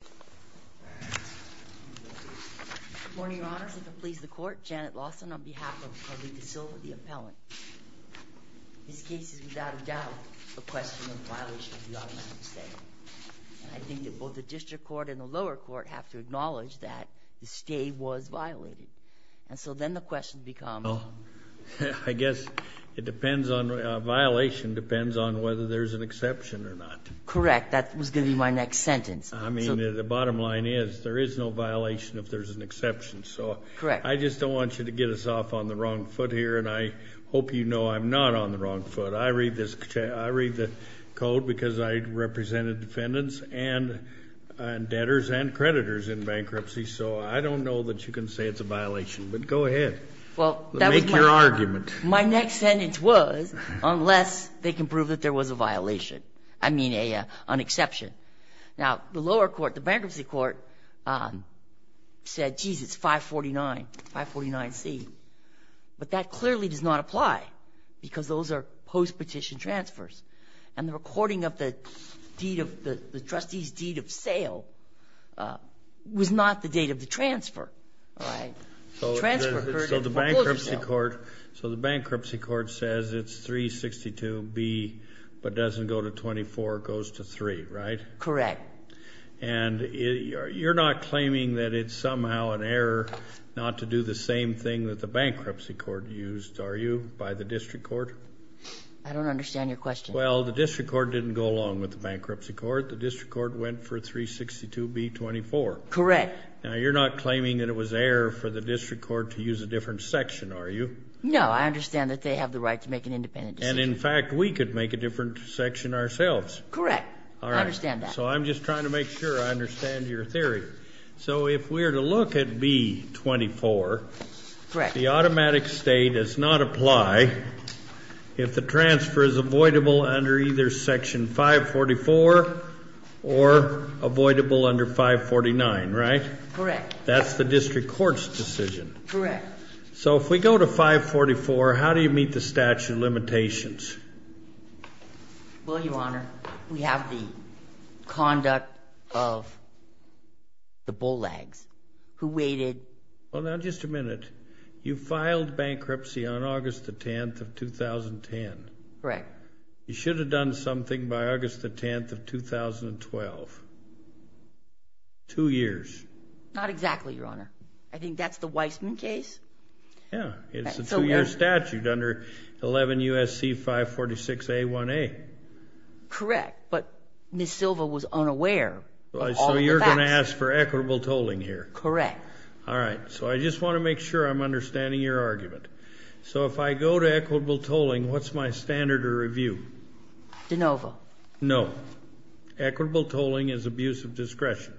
Good morning, Your Honors. If it pleases the Court, Janet Lawson on behalf of Marita Silva, the appellant. This case is without a doubt a question of violation of the automatic stay. I think that both the district court and the lower court have to acknowledge that the stay was violated. And so then the question becomes... Well, I guess it depends on, violation depends on whether there's an exception or not. Correct. That was going to be my next sentence. I mean, the bottom line is there is no violation if there's an exception. Correct. I just don't want you to get us off on the wrong foot here, and I hope you know I'm not on the wrong foot. I read the code because I represented defendants and debtors and creditors in bankruptcy, so I don't know that you can say it's a violation, but go ahead. Make your argument. My next sentence was, unless they can prove that there was a violation, I mean, an exception. Now, the lower court, the bankruptcy court, said, geez, it's 549, 549C, but that clearly does not apply because those are post-petition transfers. And the recording of the deed of, the trustee's deed of sale was not the date of the transfer. So the bankruptcy court says it's 362B, but doesn't go to 24, it goes to 3, right? Correct. And you're not claiming that it's somehow an error not to do the same thing that the bankruptcy court used, are you, by the district court? I don't understand your question. Well, the district court didn't go along with the bankruptcy court. The district court went for 362B-24. Correct. Now, you're not claiming that it was error for the district court to use a different section, are you? No, I understand that they have the right to make an independent decision. And, in fact, we could make a different section ourselves. Correct. I understand that. All right. So I'm just trying to make sure I understand your theory. So if we're to look at B-24, the automatic state does not apply if the transfer is avoidable under either Section 544 or avoidable under 549, right? Correct. That's the district court's decision. Correct. So if we go to 544, how do you meet the statute of limitations? Well, Your Honor, we have the conduct of the bull lags who waited. Well, now, just a minute. You filed bankruptcy on August the 10th of 2010. Correct. You should have done something by August the 10th of 2012. Two years. Not exactly, Your Honor. I think that's the Weisman case. Yeah. It's a two-year statute under 11 U.S.C. 546A1A. Correct. But Ms. Silva was unaware of all of the facts. So you're going to ask for equitable tolling here. Correct. All right. So I just want to make sure I'm understanding your argument. So if I go to equitable tolling, what's my standard of review? De novo. No. Equitable tolling is abuse of discretion.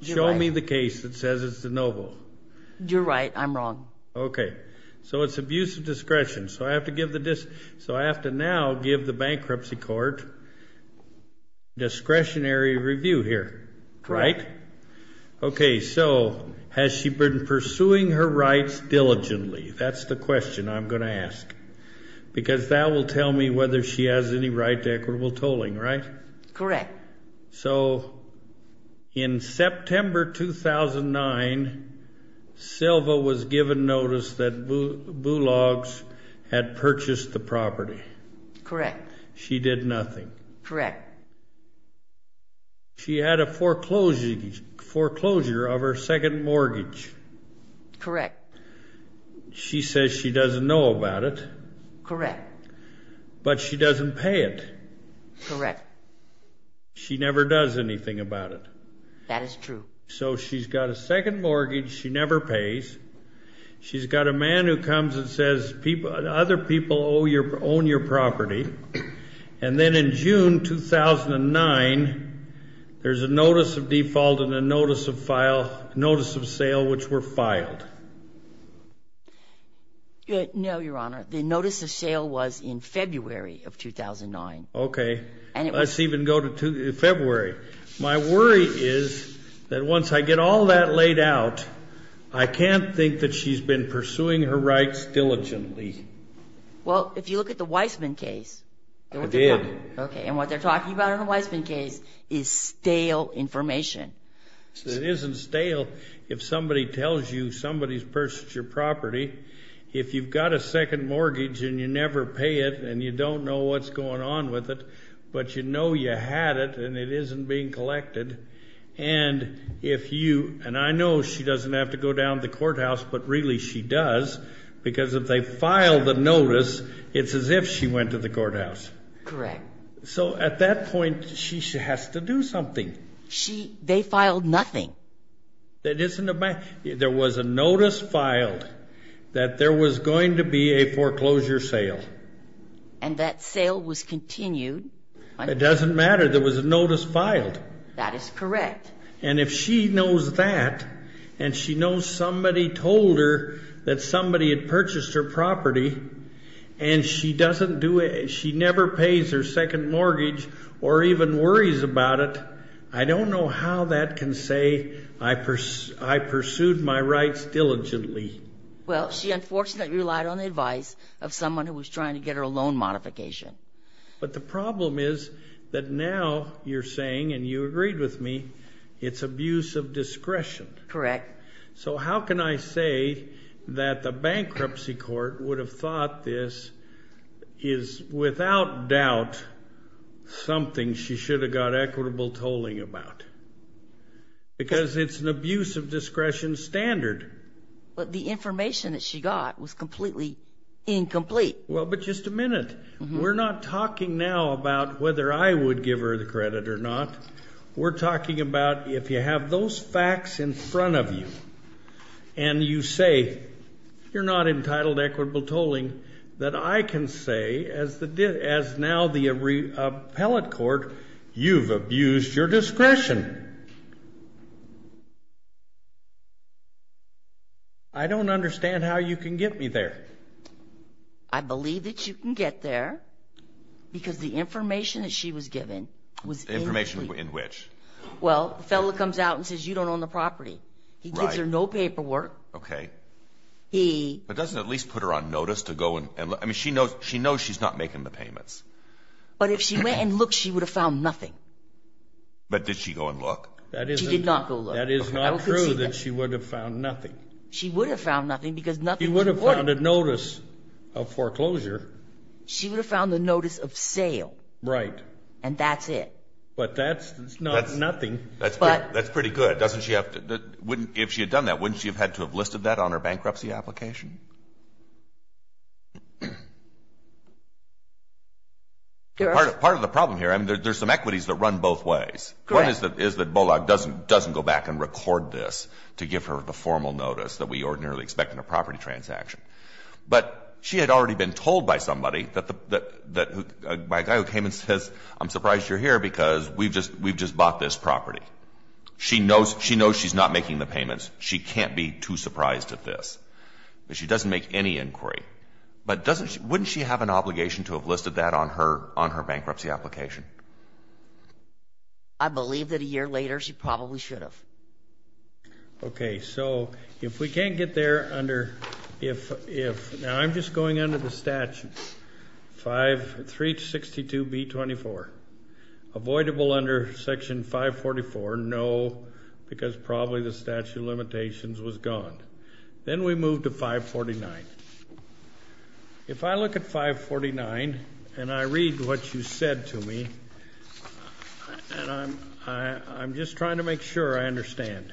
You're right. Show me the case that says it's de novo. You're right. I'm wrong. Okay. So it's abuse of discretion. So I have to now give the bankruptcy court discretionary review here, right? Correct. Okay. So has she been pursuing her rights diligently? That's the question I'm going to ask because that will tell me whether she has any right to equitable tolling, right? Correct. So in September 2009, Silva was given notice that Bulogs had purchased the property. Correct. She did nothing. Correct. She had a foreclosure of her second mortgage. Correct. She says she doesn't know about it. Correct. But she doesn't pay it. Correct. She never does anything about it. That is true. So she's got a second mortgage she never pays. She's got a man who comes and says other people own your property. And then in June 2009, there's a notice of default and a notice of sale which were filed. No, Your Honor. The notice of sale was in February of 2009. Okay. Let's even go to February. My worry is that once I get all that laid out, I can't think that she's been pursuing her rights diligently. Well, if you look at the Weisman case. I did. Okay. And what they're talking about in the Weisman case is stale information. It isn't stale if somebody tells you somebody's purchased your property. If you've got a second mortgage and you never pay it and you don't know what's going on with it, but you know you had it and it isn't being collected, and if you – and I know she doesn't have to go down to the courthouse, but really she does, because if they file the notice, it's as if she went to the courthouse. Correct. So at that point, she has to do something. She – they filed nothing. That isn't a – there was a notice filed that there was going to be a foreclosure sale. And that sale was continued. It doesn't matter. There was a notice filed. That is correct. And if she knows that and she knows somebody told her that somebody had purchased her property and she doesn't do it, she never pays her second mortgage or even worries about it, I don't know how that can say I pursued my rights diligently. Well, she unfortunately relied on the advice of someone who was trying to get her a loan modification. But the problem is that now you're saying, and you agreed with me, it's abuse of discretion. Correct. So how can I say that the bankruptcy court would have thought this is without doubt something she should have got equitable tolling about? Because it's an abuse of discretion standard. But the information that she got was completely incomplete. Well, but just a minute. We're not talking now about whether I would give her the credit or not. We're talking about if you have those facts in front of you and you say you're not entitled to equitable tolling, that I can say as now the appellate court, you've abused your discretion. I don't understand how you can get me there. I believe that you can get there because the information that she was given was incomplete. Information in which? Well, the fellow comes out and says you don't own the property. He gives her no paperwork. Okay. But doesn't it at least put her on notice to go and look? I mean, she knows she's not making the payments. But if she went and looked, she would have found nothing. But did she go and look? She did not go look. That is not true that she would have found nothing. She would have found nothing because nothing was recorded. She would have found a notice of foreclosure. She would have found the notice of sale. Right. And that's it. But that's nothing. That's pretty good. If she had done that, wouldn't she have had to have listed that on her bankruptcy application? Part of the problem here, I mean, there's some equities that run both ways. Correct. One is that Bullock doesn't go back and record this to give her the formal notice that we ordinarily expect in a property transaction. But she had already been told by somebody, by a guy who came and says, I'm surprised you're here because we've just bought this property. She knows she's not making the payments. She can't be too surprised at this. But she doesn't make any inquiry. But wouldn't she have an obligation to have listed that on her bankruptcy application? I believe that a year later she probably should have. Okay. So if we can't get there under if, now I'm just going under the statute, 362B24. Avoidable under Section 544, no, because probably the statute of limitations was gone. Then we move to 549. If I look at 549 and I read what you said to me, and I'm just trying to make sure I understand.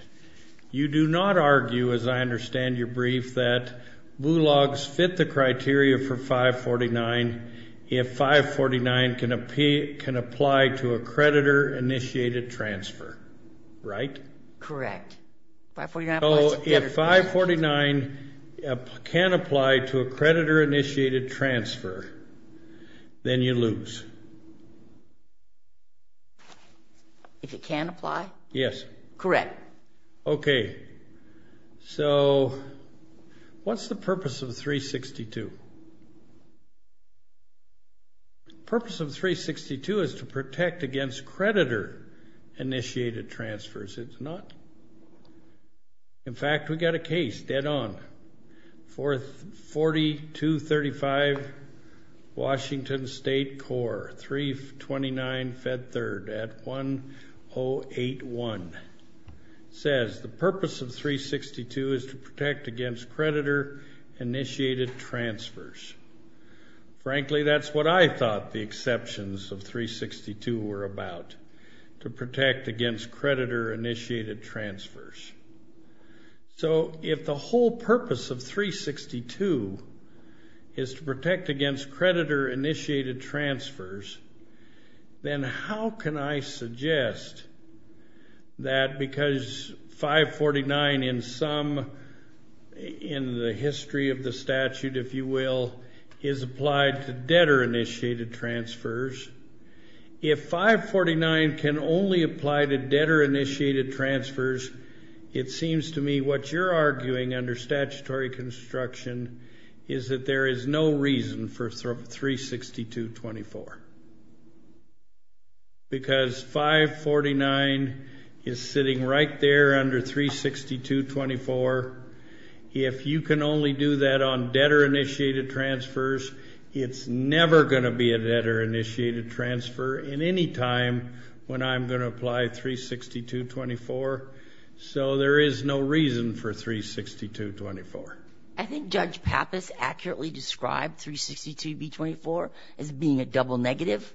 You do not argue, as I understand your brief, that Bullock's fit the criteria for 549 if 549 can apply to a creditor-initiated transfer, right? Correct. If 549 can apply to a creditor-initiated transfer, then you lose. If it can apply? Yes. Correct. Okay. So what's the purpose of 362? The purpose of 362 is to protect against creditor-initiated transfers. It's not. In fact, we've got a case dead on. 4235 Washington State Corps, 329 Fed Third at 1081, says, the purpose of 362 is to protect against creditor-initiated transfers. Frankly, that's what I thought the exceptions of 362 were about, to protect against creditor-initiated transfers. So if the whole purpose of 362 is to protect against creditor-initiated transfers, then how can I suggest that because 549 in the history of the statute, if you will, is applied to debtor-initiated transfers, if 549 can only apply to debtor-initiated transfers, it seems to me what you're arguing under statutory construction is that there is no reason for 362-24 because 549 is sitting right there under 362-24. If you can only do that on debtor-initiated transfers, it's never going to be a debtor-initiated transfer in any time when I'm going to apply 362-24. So there is no reason for 362-24. I think Judge Pappas accurately described 362b-24 as being a double negative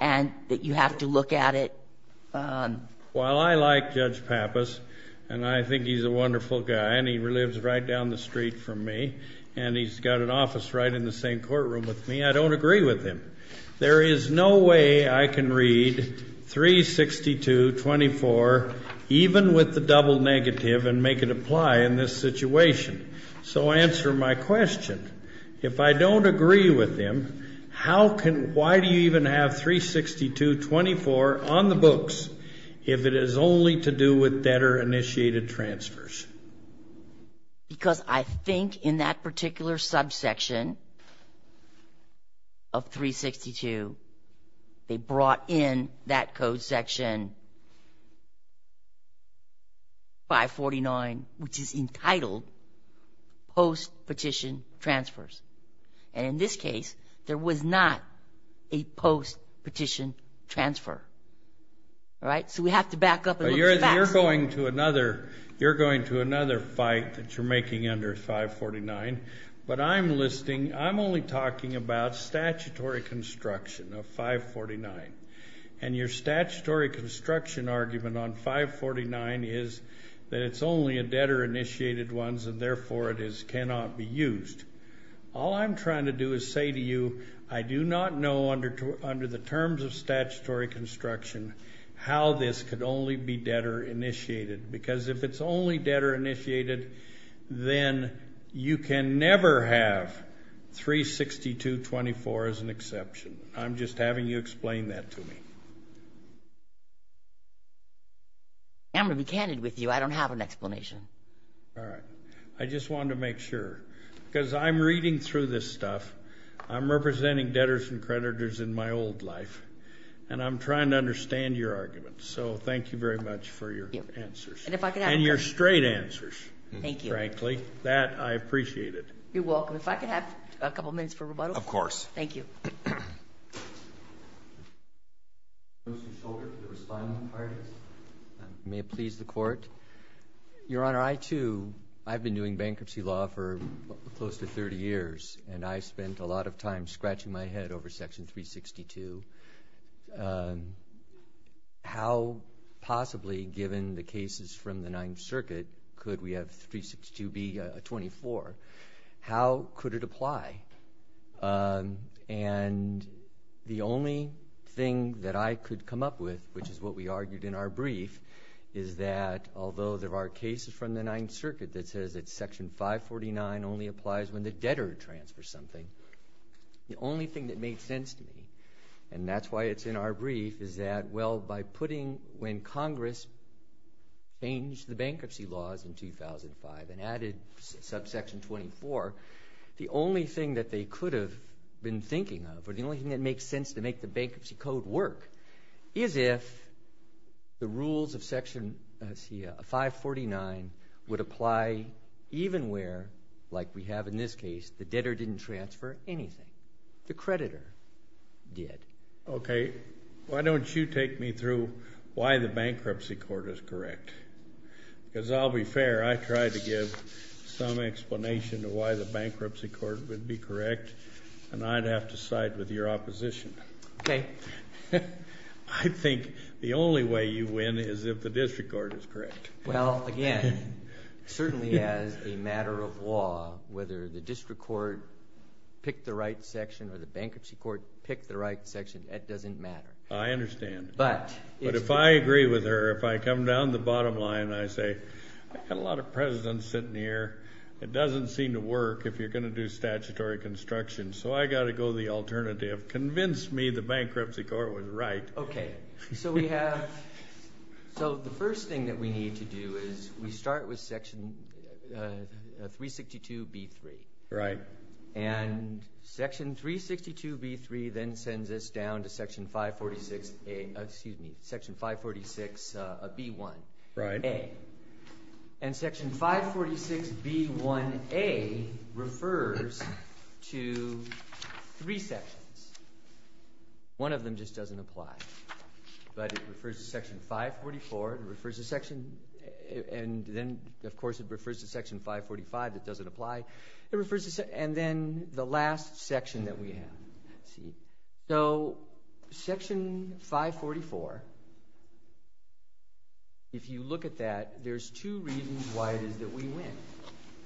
and that you have to look at it. Well, I like Judge Pappas, and I think he's a wonderful guy, and he lives right down the street from me, and he's got an office right in the same courtroom with me. I don't agree with him. There is no way I can read 362-24 even with the double negative and make it apply in this situation. So answer my question. If I don't agree with him, why do you even have 362-24 on the books if it is only to do with debtor-initiated transfers? Because I think in that particular subsection of 362, they brought in that code section 549, which is entitled post-petition transfers. And in this case, there was not a post-petition transfer. So we have to back up and look at the facts. You're going to another fight that you're making under 549. But I'm listing, I'm only talking about statutory construction of 549. And your statutory construction argument on 549 is that it's only a debtor-initiated ones, and therefore it cannot be used. All I'm trying to do is say to you, I do not know under the terms of statutory construction how this could only be debtor-initiated. Because if it's only debtor-initiated, then you can never have 362-24 as an exception. I'm just having you explain that to me. I'm going to be candid with you. I don't have an explanation. All right. I just wanted to make sure. Because I'm reading through this stuff. I'm representing debtors and creditors in my old life. And I'm trying to understand your argument. So thank you very much for your answers. And your straight answers, frankly. Thank you. That, I appreciate it. You're welcome. If I could have a couple minutes for rebuttal? Of course. Thank you. May it please the Court? Your Honor, I, too, I've been doing bankruptcy law for close to 30 years. And I spent a lot of time scratching my head over Section 362. How possibly, given the cases from the Ninth Circuit, could we have 362 be a 24? How could it apply? And the only thing that I could come up with, which is what we argued in our brief, is that although there are cases from the Ninth Circuit that says that Section 549 only applies when the debtor transfers something, the only thing that made sense to me, and that's why it's in our brief, is that, well, by putting when Congress changed the bankruptcy laws in 2005 and added subsection 24, the only thing that they could have been thinking of, or the only thing that makes sense to make the bankruptcy code work, is if the rules of Section 549 would apply even where, like we have in this case, the debtor didn't transfer anything. The creditor did. Okay. Why don't you take me through why the bankruptcy court is correct? Because I'll be fair. I tried to give some explanation of why the bankruptcy court would be correct, and I'd have to side with your opposition. Okay. I think the only way you win is if the district court is correct. Well, again, certainly as a matter of law, whether the district court picked the right section or the bankruptcy court picked the right section, that doesn't matter. I understand. But if I agree with her, if I come down the bottom line and I say, I've got a lot of presidents sitting here. It doesn't seem to work if you're going to do statutory construction, so I've got to go the alternative. Convince me the bankruptcy court was right. Okay. So we have, so the first thing that we need to do is we start with Section 362B3. Right. And Section 362B3 then sends us down to Section 546A, excuse me, Section 546B1A. Right. And Section 546B1A refers to three sections. One of them just doesn't apply, but it refers to Section 544. It refers to Section, and then, of course, it refers to Section 545 that doesn't apply. It refers to, and then the last section that we have. See? So Section 544, if you look at that, there's two reasons why it is that we win.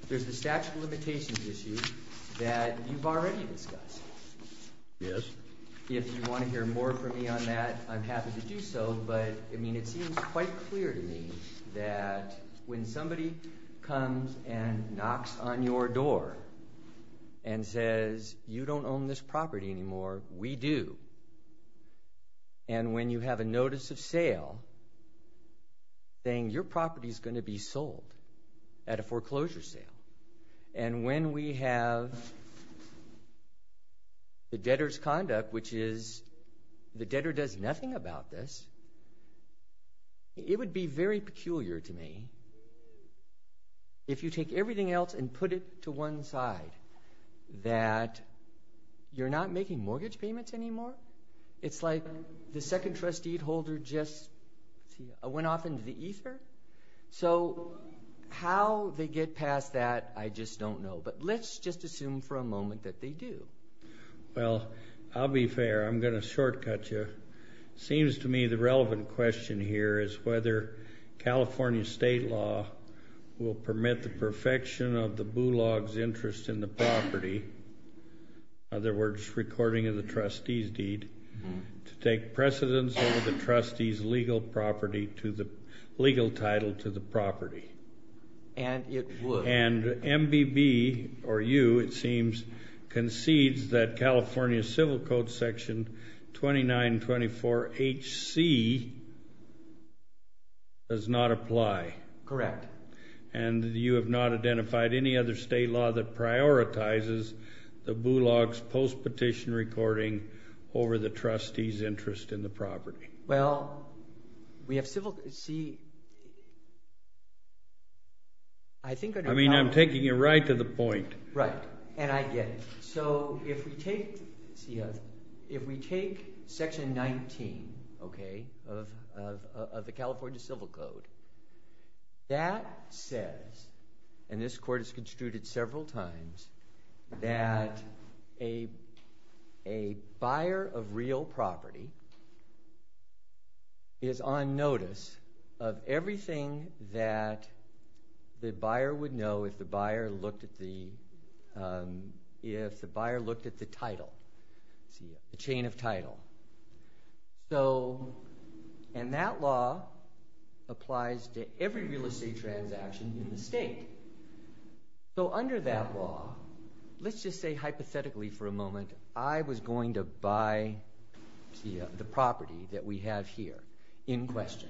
There's the statute of limitations issue that you've already discussed. Yes. If you want to hear more from me on that, I'm happy to do so, but, I mean, it seems quite clear to me that when somebody comes and knocks on your door and says, you don't own this property anymore, we do, and when you have a notice of sale saying your property is going to be sold at a foreclosure sale, and when we have the debtor's conduct, which is the debtor does nothing about this, it would be very peculiar to me if you take everything else and put it to one side, that you're not making mortgage payments anymore. It's like the second trustee holder just went off into the ether. So how they get past that, I just don't know, but let's just assume for a moment that they do. Well, I'll be fair. I'm going to shortcut you. It seems to me the relevant question here is whether California state law will permit the perfection of the boulogne's interest in the property, in other words, recording of the trustee's deed, to take precedence over the trustee's legal title to the property. And it would. And MBB, or you, it seems, concedes that California Civil Code Section 2924HC does not apply. Correct. And you have not identified any other state law that prioritizes the boulogne's post-petition recording over the trustee's interest in the property. Well, we have civil – see, I think – I mean, I'm taking you right to the point. Right. And I get it. So if we take – see, if we take Section 19, okay, of the California Civil Code, that says, and this court has construed it several times, that a buyer of real property is on notice of everything that the buyer would know if the buyer looked at the title, the chain of title. So – and that law applies to every real estate transaction in the state. So under that law, let's just say hypothetically for a moment, I was going to buy the property that we have here in question.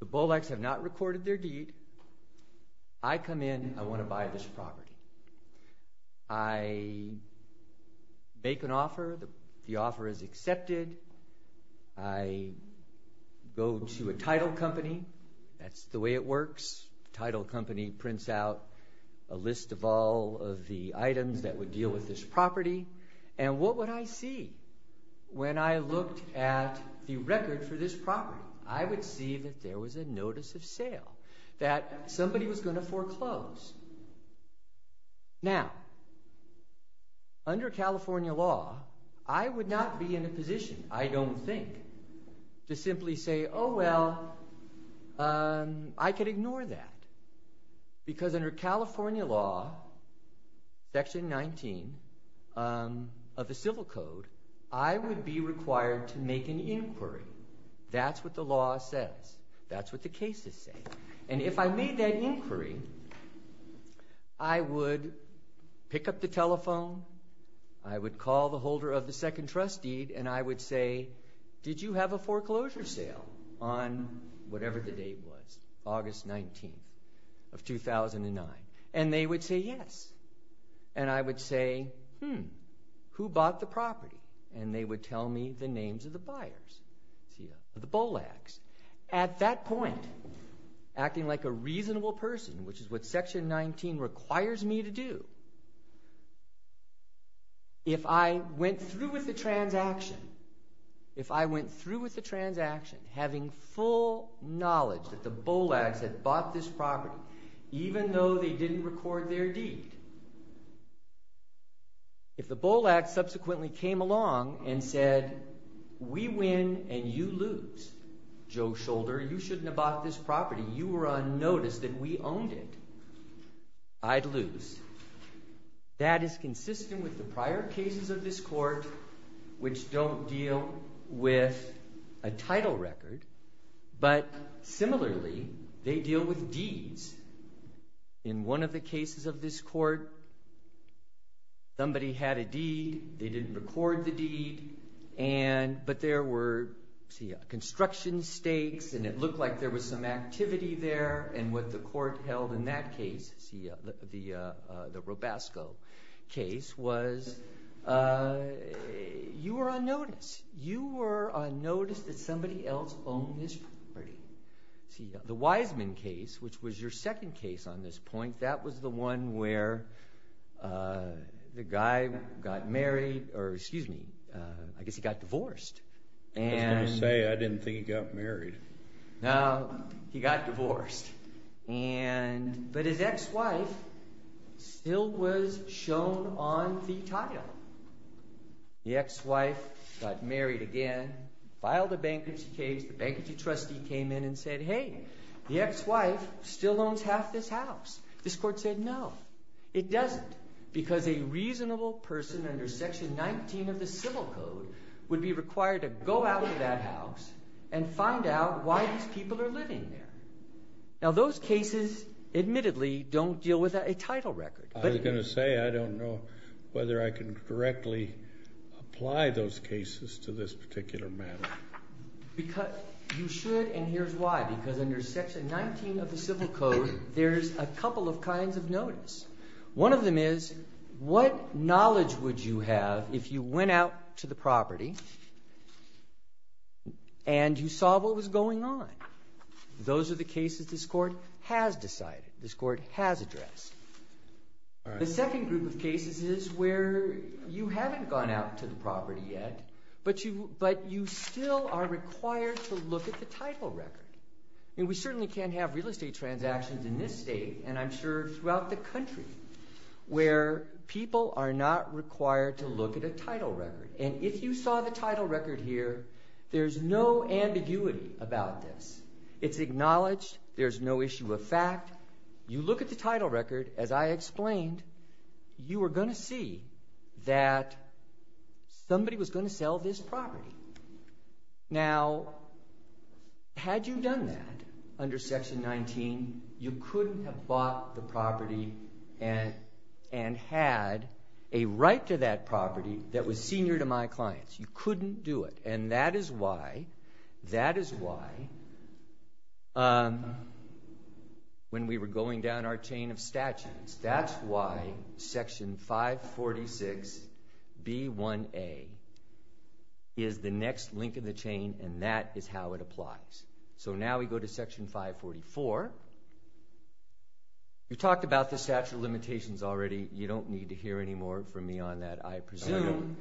The bolecs have not recorded their deed. I come in. I want to buy this property. I make an offer. The offer is accepted. I go to a title company. That's the way it works. Title company prints out a list of all of the items that would deal with this property. And what would I see when I looked at the record for this property? I would see that there was a notice of sale, that somebody was going to foreclose. Now, under California law, I would not be in a position, I don't think, to simply say, oh, well, I could ignore that. Because under California law, Section 19 of the Civil Code, I would be required to make an inquiry. That's what the law says. That's what the cases say. And if I made that inquiry, I would pick up the telephone. I would call the holder of the second trust deed, and I would say, did you have a foreclosure sale on whatever the date was, August 19th of 2009? And they would say yes. And they would tell me the names of the buyers, the BOLACs. At that point, acting like a reasonable person, which is what Section 19 requires me to do, if I went through with the transaction, if I went through with the transaction having full knowledge that the BOLACs had bought this property, even though they didn't record their deed, if the BOLAC subsequently came along and said, we win and you lose, Joe Shoulder, you shouldn't have bought this property. You were on notice that we owned it. I'd lose. That is consistent with the prior cases of this court, which don't deal with a title record. But similarly, they deal with deeds. In one of the cases of this court, somebody had a deed. They didn't record the deed. But there were construction stakes, and it looked like there was some activity there. And what the court held in that case, the Robasco case, was you were on notice. You were on notice that somebody else owned this property. The Wiseman case, which was your second case on this point, that was the one where the guy got married or, excuse me, I guess he got divorced. I was going to say, I didn't think he got married. No, he got divorced. But his ex-wife still was shown on the title. The ex-wife got married again, filed a bankruptcy case. The bankruptcy trustee came in and said, hey, the ex-wife still owns half this house. This court said no, it doesn't, because a reasonable person under Section 19 of the Civil Code would be required to go out of that house and find out why these people are living there. Now, those cases admittedly don't deal with a title record. I was going to say I don't know whether I can directly apply those cases to this particular matter. You should, and here's why. Because under Section 19 of the Civil Code, there's a couple of kinds of notice. One of them is what knowledge would you have if you went out to the property and you saw what was going on? Those are the cases this court has decided, this court has addressed. The second group of cases is where you haven't gone out to the property yet, but you still are required to look at the title record. I mean, we certainly can't have real estate transactions in this state, and I'm sure throughout the country, where people are not required to look at a title record. And if you saw the title record here, there's no ambiguity about this. It's acknowledged. There's no issue of fact. You look at the title record, as I explained, you are going to see that somebody was going to sell this property. Now, had you done that under Section 19, you couldn't have bought the property and had a right to that property that was senior to my clients. You couldn't do it. And that is why when we were going down our chain of statutes, that's why Section 546B1A is the next link in the chain, and that is how it applies. So now we go to Section 544. We talked about the statute of limitations already. You don't need to hear any more from me on that, I presume.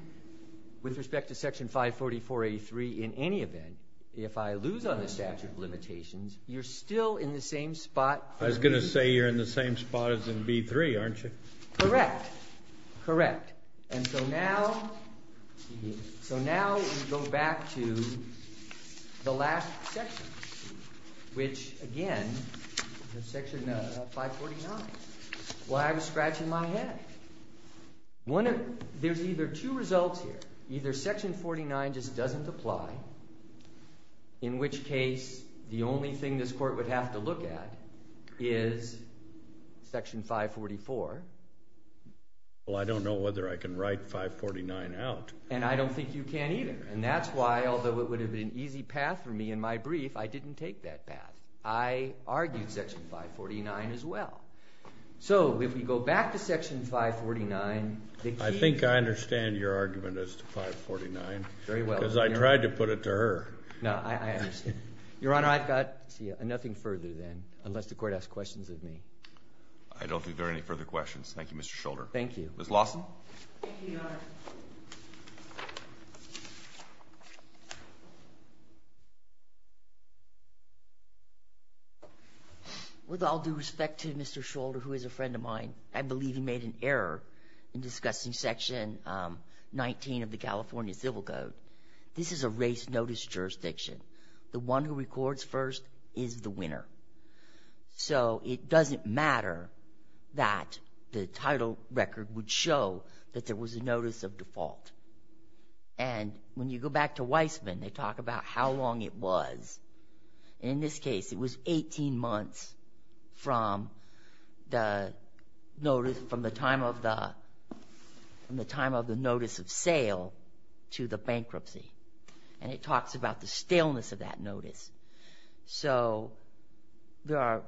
With respect to Section 544A3, in any event, if I lose on the statute of limitations, you're still in the same spot. I was going to say you're in the same spot as in B3, aren't you? Correct. Correct. And so now we go back to the last section, which, again, is Section 549. Why I was scratching my head. There's either two results here. Either Section 49 just doesn't apply, in which case the only thing this court would have to look at is Section 544. Well, I don't know whether I can write 549 out. And I don't think you can either. And that's why, although it would have been an easy path for me in my brief, I didn't take that path. I argued Section 549 as well. So if we go back to Section 549, the key... I think I understand your argument as to 549. Very well. Because I tried to put it to her. No, I understand. Your Honor, I've got nothing further then, unless the Court asks questions of me. I don't think there are any further questions. Thank you, Mr. Scholder. Thank you. Ms. Lawson. Thank you, Your Honor. With all due respect to Mr. Scholder, who is a friend of mine, I believe he made an error in discussing Section 19 of the California Civil Code. This is a race notice jurisdiction. The one who records first is the winner. So it doesn't matter that the title record would show that there was a notice of default. And when you go back to Weisman, they talk about how long it was. In this case, it was 18 months from the time of the notice of sale to the bankruptcy. And it talks about the staleness of that notice. So there are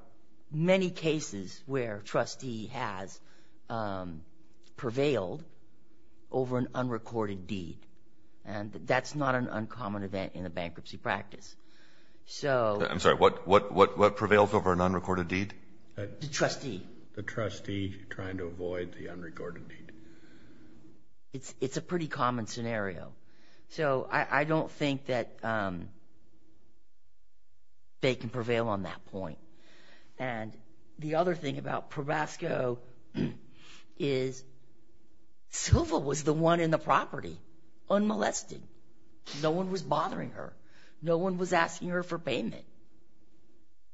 many cases where a trustee has prevailed over an unrecorded deed. And that's not an uncommon event in a bankruptcy practice. I'm sorry. What prevails over an unrecorded deed? The trustee. The trustee trying to avoid the unrecorded deed. It's a pretty common scenario. So I don't think that they can prevail on that point. And the other thing about Probasco is Silva was the one in the property unmolested. No one was bothering her. No one was asking her for payment.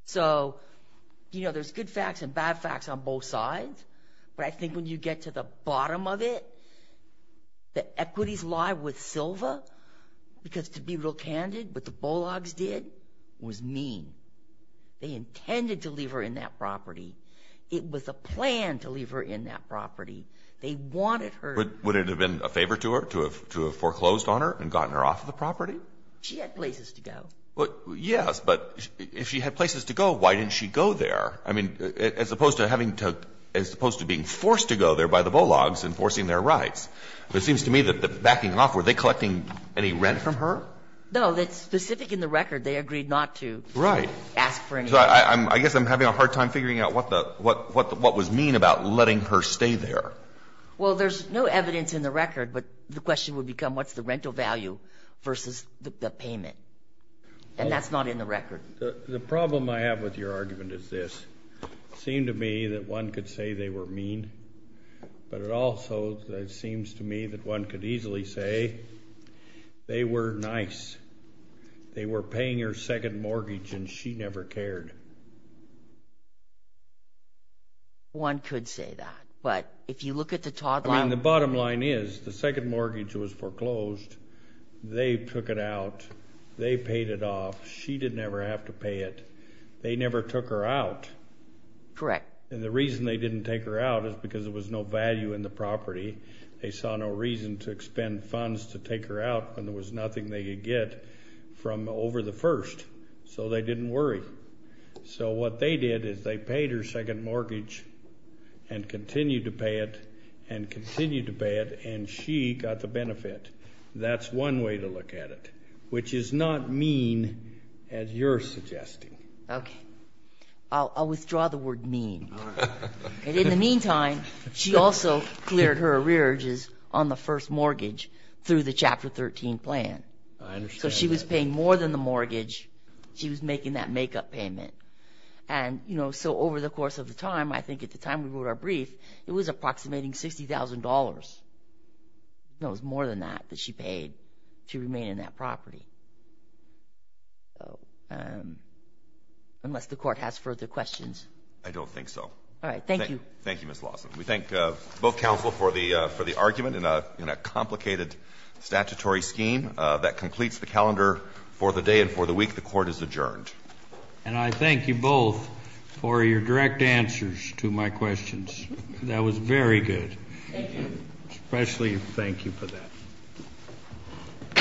So there's good facts and bad facts on both sides. But I think when you get to the bottom of it, the equities lie with Silva. Because to be real candid, what the Bullogs did was mean. They intended to leave her in that property. It was a plan to leave her in that property. They wanted her. Would it have been a favor to her to have foreclosed on her and gotten her off the property? She had places to go. Yes, but if she had places to go, why didn't she go there? I mean, as opposed to having to, as opposed to being forced to go there by the Bullogs and forcing their rights. It seems to me that backing off, were they collecting any rent from her? No. It's specific in the record. They agreed not to. Right. Ask for anything. I guess I'm having a hard time figuring out what the, what was mean about letting her stay there. Well, there's no evidence in the record, but the question would become what's the rental value versus the payment. And that's not in the record. The problem I have with your argument is this. It seemed to me that one could say they were mean, but it also seems to me that one could easily say they were nice. They were paying her second mortgage, and she never cared. One could say that, but if you look at the Todd line. I mean, the bottom line is the second mortgage was foreclosed. They took it out. They paid it off. She didn't ever have to pay it. They never took her out. Correct. And the reason they didn't take her out is because there was no value in the property. They saw no reason to expend funds to take her out when there was nothing they could get from over the first. So they didn't worry. So what they did is they paid her second mortgage and continued to pay it and continued to pay it, and she got the benefit. That's one way to look at it, which is not mean as you're suggesting. Okay. I'll withdraw the word mean. And in the meantime, she also cleared her arrearages on the first mortgage through the Chapter 13 plan. I understand that. So she was paying more than the mortgage. She was making that makeup payment. And, you know, so over the course of the time, I think at the time we wrote our brief, it was approximating $60,000. It was more than that that she paid to remain in that property. So unless the Court has further questions. I don't think so. All right. Thank you. Thank you, Ms. Lawson. We thank both counsel for the argument in a complicated statutory scheme. That completes the calendar for the day and for the week. The Court is adjourned. And I thank you both for your direct answers to my questions. That was very good. Thank you. Especially thank you for that.